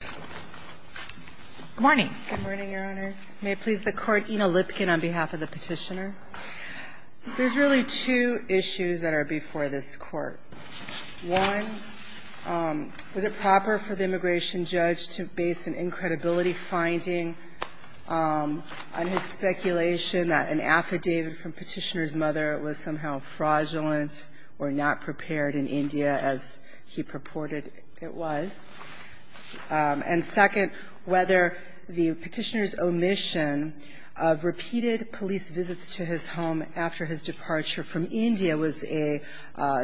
Good morning. Good morning, Your Honors. May it please the Court, Ina Lipkin on behalf of the Petitioner. There's really two issues that are before this Court. One, was it proper for the immigration judge to base an incredibility finding on his speculation that an affidavit from Petitioner's mother was somehow fraudulent or not prepared in India, as he purported it was? And second, whether the Petitioner's omission of repeated police visits to his home after his departure from India was a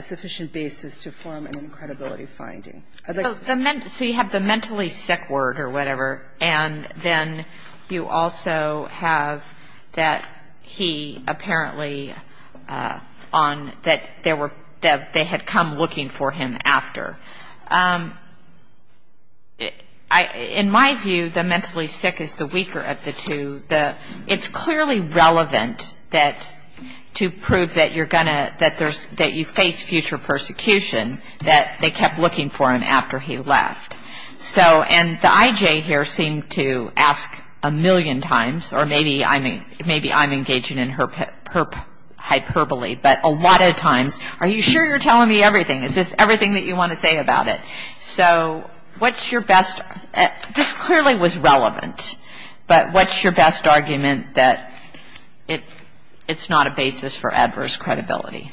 sufficient basis to form an incredibility finding. So you have the mentally sick word or whatever, and then you also have that he apparently, that they had come looking for him after. In my view, the mentally sick is the weaker of the two. It's clearly relevant to prove that you're going to, that you face future persecution, that they kept looking for him after he left. So, and the I.J. here seemed to ask a million times, or maybe I'm engaging in hyperbole, but a lot of times, are you sure you're telling me everything? Is this everything that you want to say about it? So what's your best – this clearly was relevant, but what's your best argument that it's not a basis for adverse credibility?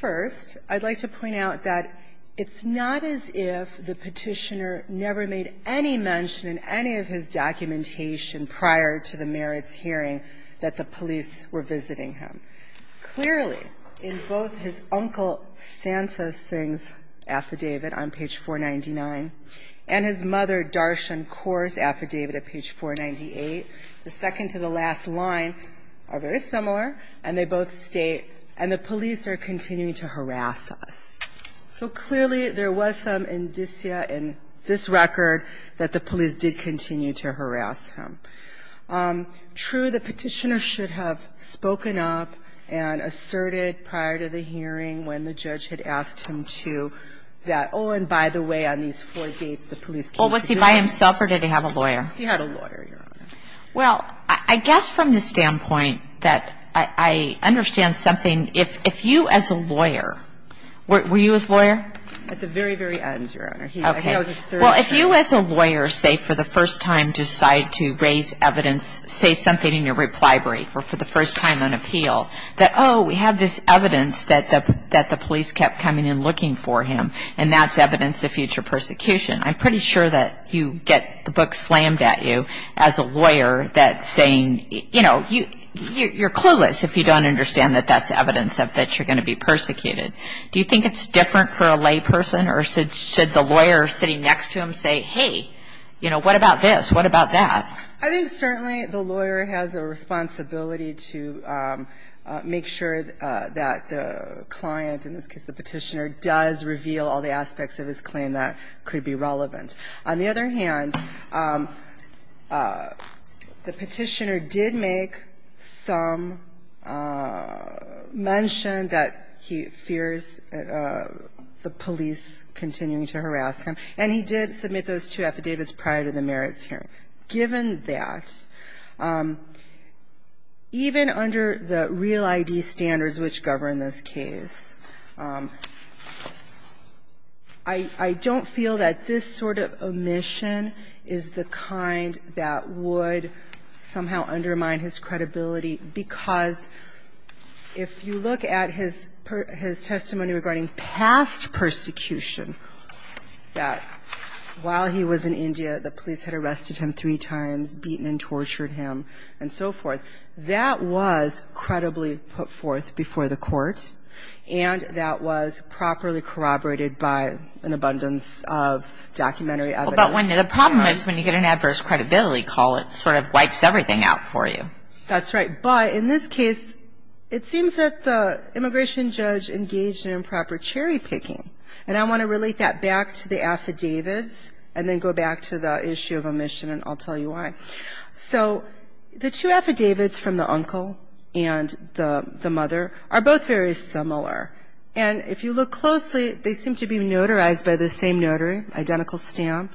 First, I'd like to point out that it's not as if the Petitioner never made any mention in any of his documentation prior to the merits hearing that the police were visiting him. Clearly, in both his Uncle Santa Sings affidavit on page 499 and his Mother Darshan Coors affidavit at page 498, the second to the last line are very similar, and they both state, and the police are continuing to harass us. So clearly, there was some indicia in this record that the police did continue to harass him. True, the Petitioner should have spoken up and asserted prior to the hearing when the judge had asked him to that, oh, and by the way, on these four dates, the police came to visit him. Well, was he by himself or did he have a lawyer? He had a lawyer, Your Honor. Well, I guess from the standpoint that I understand something, if you as a lawyer – were you his lawyer? At the very, very end, Your Honor. Okay. Well, if you as a lawyer, say, for the first time decide to raise evidence, say something in your reply brief or for the first time on appeal, that, oh, we have this evidence that the police kept coming and looking for him, and that's evidence of future persecution. I'm pretty sure that you get the book slammed at you as a lawyer that's saying, you know, you're clueless if you don't understand that that's evidence of that you're going to be persecuted. Do you think it's different for a lay person, or should the lawyer sitting next to him say, hey, you know, what about this? What about that? I think certainly the lawyer has a responsibility to make sure that the client, in this case the Petitioner, does reveal all the aspects of his claim that could be relevant. On the other hand, the Petitioner did make some mention that he fears the police continuing to harass him, and he did submit those two affidavits prior to the merits hearing. Given that, even under the real ID standards which govern this case, the Petitioner did submit those two affidavits prior to the merits hearing. I don't feel that this sort of omission is the kind that would somehow undermine his credibility, because if you look at his testimony regarding past persecution that while he was in India, the police had arrested him three times, beaten and tortured him and so forth. That was credibly put forth before the court, and that was properly corroborated by an abundance of documentary evidence. But the problem is when you get an adverse credibility call, it sort of wipes everything out for you. That's right. But in this case, it seems that the immigration judge engaged in improper cherry picking, and I want to relate that back to the affidavits and then go back to the issue of omission, and I'll tell you why. So the two affidavits from the uncle and the mother are both very similar, and if you look closely, they seem to be notarized by the same notary, identical stamp.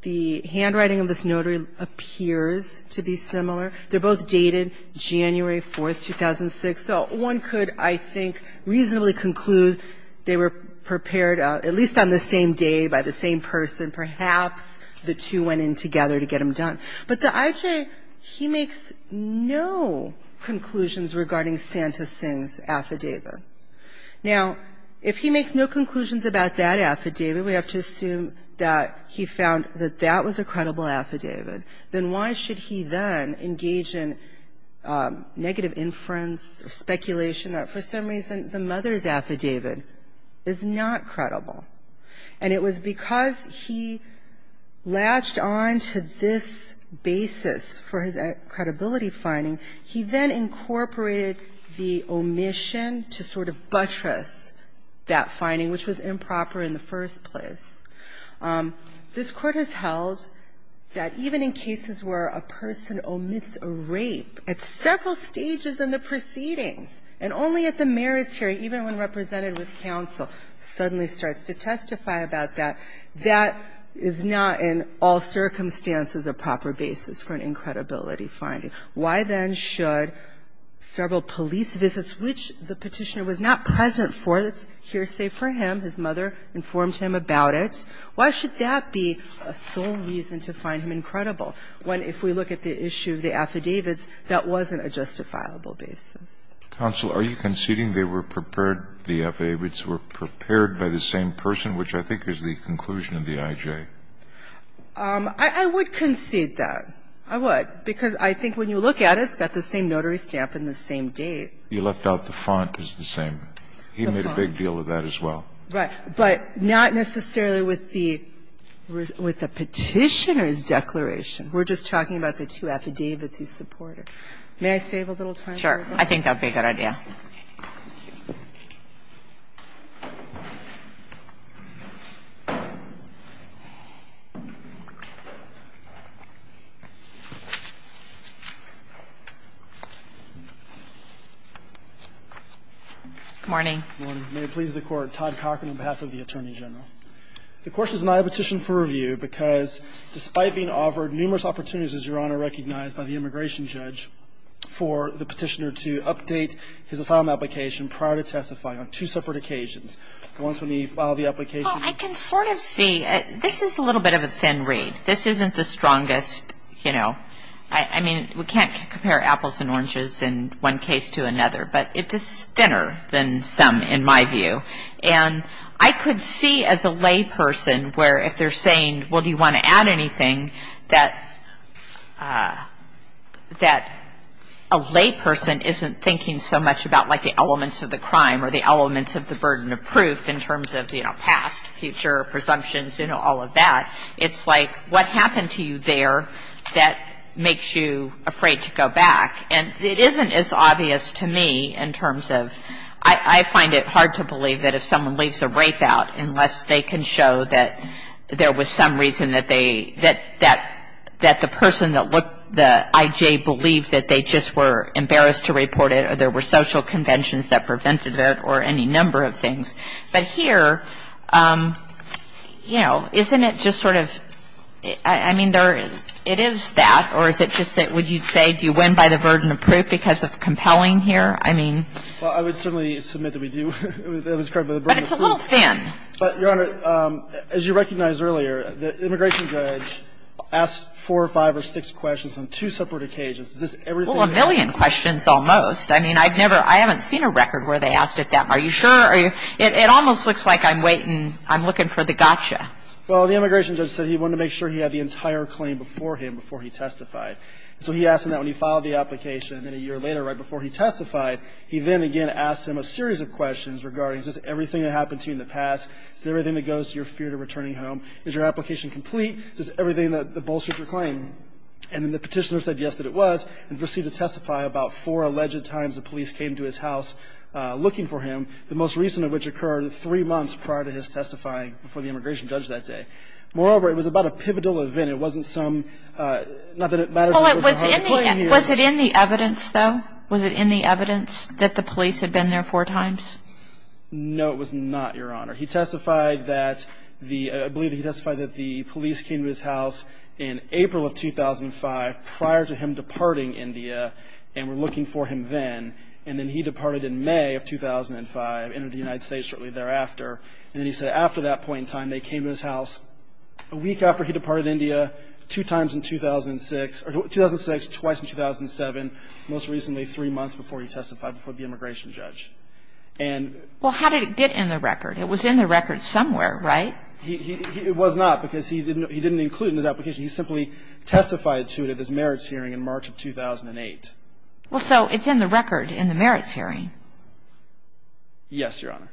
The handwriting of this notary appears to be similar. They're both dated January 4, 2006. So one could, I think, reasonably conclude they were prepared, at least on the same day by the same person. Perhaps the two went in together to get them done. But the IJ, he makes no conclusions regarding Santa Sing's affidavit. Now, if he makes no conclusions about that affidavit, we have to assume that he found that that was a credible affidavit, then why should he then engage in negative inference or speculation that for some reason the mother's affidavit is not credible? And it was because he latched on to this basis for his credibility finding. He then incorporated the omission to sort of buttress that finding, which was improper in the first place. This Court has held that even in cases where a person omits a rape at several stages in the proceedings, and only at the meritory, even when represented with counsel, suddenly starts to testify about that, that is not in all circumstances a proper basis for an incredibility finding. Why, then, should several police visits, which the Petitioner was not present for, it's hearsay for him, his mother informed him about it, why should that be a sole reason to find him incredible? When, if we look at the issue of the affidavits, that wasn't a justifiable basis. Kennedy, counsel, are you conceding they were prepared, the affidavits were prepared by the same person, which I think is the conclusion of the IJ? I would concede that. I would. Because I think when you look at it, it's got the same notary stamp and the same date. You left out the font is the same. He made a big deal of that as well. Right. But not necessarily with the Petitioner's declaration. We're just talking about the two affidavits he supported. May I save a little time for it? Sure. I think that would be a good idea. Good morning. Good morning. May it please the Court, Todd Cochran on behalf of the Attorney General. The question is not a petition for review because despite being offered numerous opportunities, Your Honor, recognized by the immigration judge for the Petitioner to update his asylum application prior to testifying on two separate occasions, the ones when he filed the application. Well, I can sort of see. This is a little bit of a thin read. This isn't the strongest, you know, I mean, we can't compare apples and oranges in one case to another. But this is thinner than some in my view. And I could see as a layperson where if they're saying, well, do you want to add anything, that a layperson isn't thinking so much about like the elements of the crime or the elements of the burden of proof in terms of, you know, past, future, presumptions, you know, all of that. It's like what happened to you there that makes you afraid to go back. And it isn't as obvious to me in terms of, I find it hard to believe that if someone leaves a rape out, unless they can show that there was some reason that they, that the person that looked, the I.J. believed that they just were embarrassed to report it or there were social conventions that prevented it or any number of things. But here, you know, isn't it just sort of, I mean, it is that, or is it just that the case is so thin that it's hard to understand what's going on? And to the extent that you're saying do you win by the burden of proof because of compelling here, I mean. Well, I would certainly submit that we do. That was correct. But the burden of proof. But it's a little thin. Your Honor, as you recognized earlier, the immigration judge asked four or five or six questions on two separate occasions. Is this everything he asked? Well, a million questions almost. I mean, I'd never, I haven't seen a record where they asked it that much. Are you sure? It almost looks like I'm waiting, I'm looking for the gotcha. Well, the immigration judge said he wanted to make sure he had the entire claim before him, before he testified. So he asked him that when he filed the application. And then a year later, right before he testified, he then again asked him a series of questions regarding is this everything that happened to you in the past? Is this everything that goes to your fear to returning home? Is your application complete? Is this everything that bolsters your claim? And then the petitioner said yes that it was and proceeded to testify about four alleged times the police came to his house looking for him. The most recent of which occurred three months prior to his testifying before the immigration judge that day. Moreover, it was about a pivotal event. It wasn't some, not that it matters. Was it in the evidence, though? Was it in the evidence that the police had been there four times? No, it was not, Your Honor. He testified that the, I believe he testified that the police came to his house in April of 2005 prior to him departing India and were looking for him then. And then he departed in May of 2005, entered the United States shortly thereafter. And then he said after that point in time they came to his house a week after he departed India two times in 2006, or 2006, twice in 2007, most recently three months before he testified before the immigration judge. And. Well, how did it get in the record? It was in the record somewhere, right? It was not because he didn't include it in his application. He simply testified to it at his merits hearing in March of 2008. Well, so it's in the record in the merits hearing. Yes, Your Honor.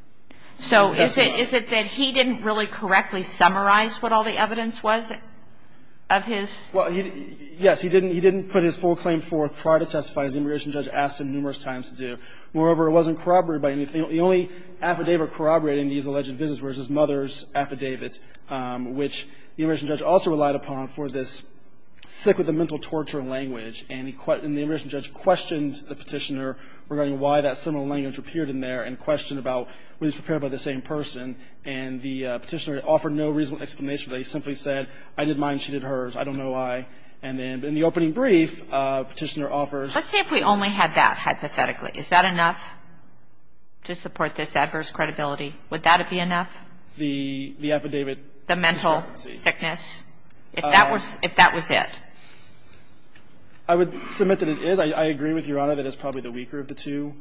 So is it that he didn't really correctly summarize what all the evidence was of his? Well, yes. He didn't put his full claim forth prior to testifying. The immigration judge asked him numerous times to do. Moreover, it wasn't corroborated by anything. The only affidavit corroborating these alleged visits was his mother's affidavit, which the immigration judge also relied upon for this sick with a mental torture language. And the immigration judge questioned the petitioner regarding why that similar language appeared in there, and questioned about whether he was prepared by the same person. And the petitioner offered no reasonable explanation. They simply said, I did mine, she did hers, I don't know why. And then in the opening brief, the petitioner offers. Let's see if we only had that hypothetically. Is that enough to support this adverse credibility? Would that be enough? The affidavit. The mental sickness. If that was it. I would submit that it is. I agree with Your Honor that it's probably the weaker of the two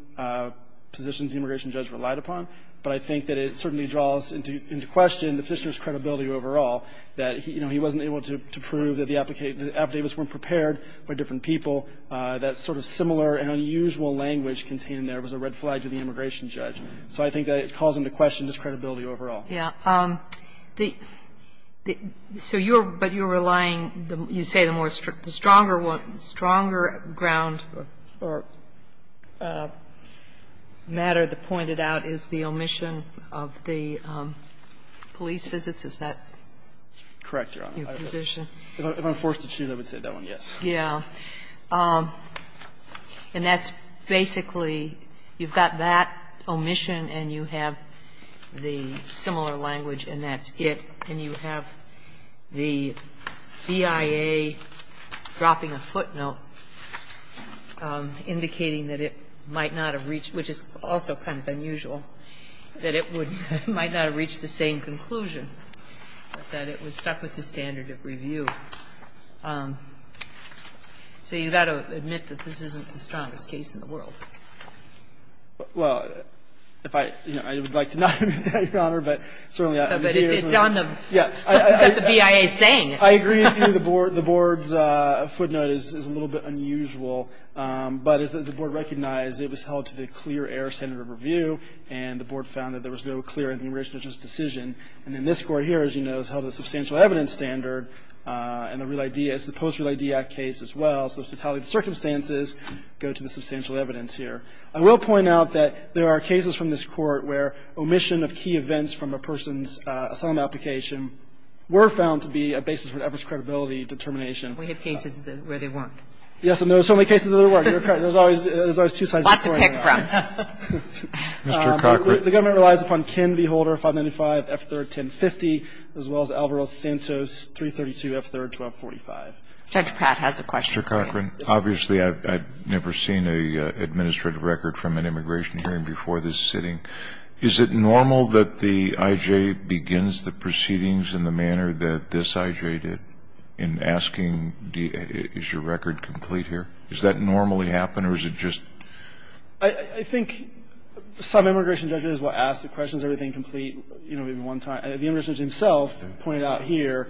positions the immigration judge relied upon, but I think that it certainly draws into question the petitioner's credibility overall, that, you know, he wasn't able to prove that the affidavits weren't prepared by different people, that sort of similar and unusual language contained in there was a red flag to the immigration judge. So I think that it calls into question his credibility overall. Yeah. So you're relying, you say the stronger ground or matter that pointed out is the omission of the police visits. Is that your position? Correct, Your Honor. If I'm forced to choose, I would say that one, yes. Yeah. And that's basically, you've got that omission and you have the similar language and that's it, and you have the BIA dropping a footnote indicating that it might not have reached, which is also kind of unusual, that it might not have reached the same conclusion, that it was stuck with the standard of review. So you've got to admit that this isn't the strongest case in the world. Well, if I, you know, I would like to not admit that, Your Honor, but certainly I agree with you. But it's on the BIA saying. I agree with you. The Board's footnote is a little bit unusual. But as the Board recognized, it was held to the clear air standard of review, and the Board found that there was no clear in the immigration judge's decision. And then this Court here, as you know, has held a substantial evidence standard in the post-Real ID Act case as well. So the totality of the circumstances go to the substantial evidence here. I will point out that there are cases from this Court where omission of key events from a person's asylum application were found to be a basis for the average credibility determination. We have cases where they weren't. Yes. And there are so many cases where they weren't. There's always two sides of the coin. A lot to pick from. Mr. Cockburn. The government relies upon Ken V. Holder, 595, F. 3rd, 1050, as well as Alvaro Santos, 332, F. 3rd, 1245. Judge Pratt has a question. Mr. Cockburn, obviously I've never seen an administrative record from an immigration hearing before this sitting. Is it normal that the I.J. begins the proceedings in the manner that this I.J. did in asking, is your record complete here? Does that normally happen, or is it just? I think some immigration judges will ask the question, is everything complete, you know, maybe one time. The immigration judge himself pointed out here,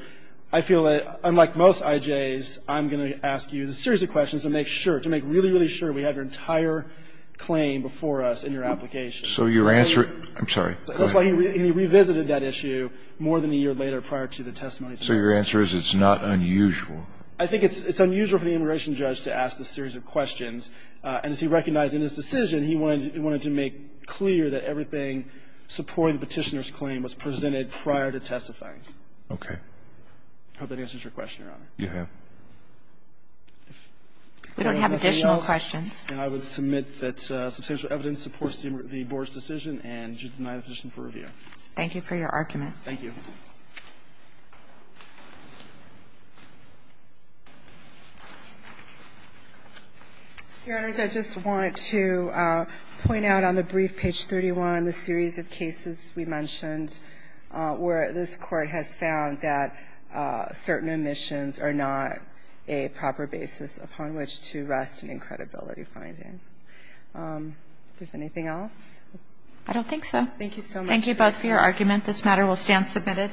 I feel that, unlike most I.J.s, I'm going to ask you the series of questions to make sure, to make really, really sure we have your entire claim before us in your application. So your answer to that? I'm sorry. Go ahead. That's why he revisited that issue more than a year later prior to the testimony today. So your answer is it's not unusual? I think it's unusual for the immigration judge to ask this series of questions. And as he recognized in his decision, he wanted to make clear that everything supporting the Petitioner's claim was presented prior to testifying. Okay. I hope that answers your question, Your Honor. You have. We don't have additional questions. And I would submit that substantial evidence supports the Board's decision, and you deny the position for review. Thank you for your argument. Thank you. Your Honors, I just want to point out on the brief, page 31, the series of cases we mentioned where this Court has found that certain omissions are not a proper basis upon which to rest an incredibility finding. Is there anything else? I don't think so. Thank you so much. Thank you both for your argument. This matter will stand submitted.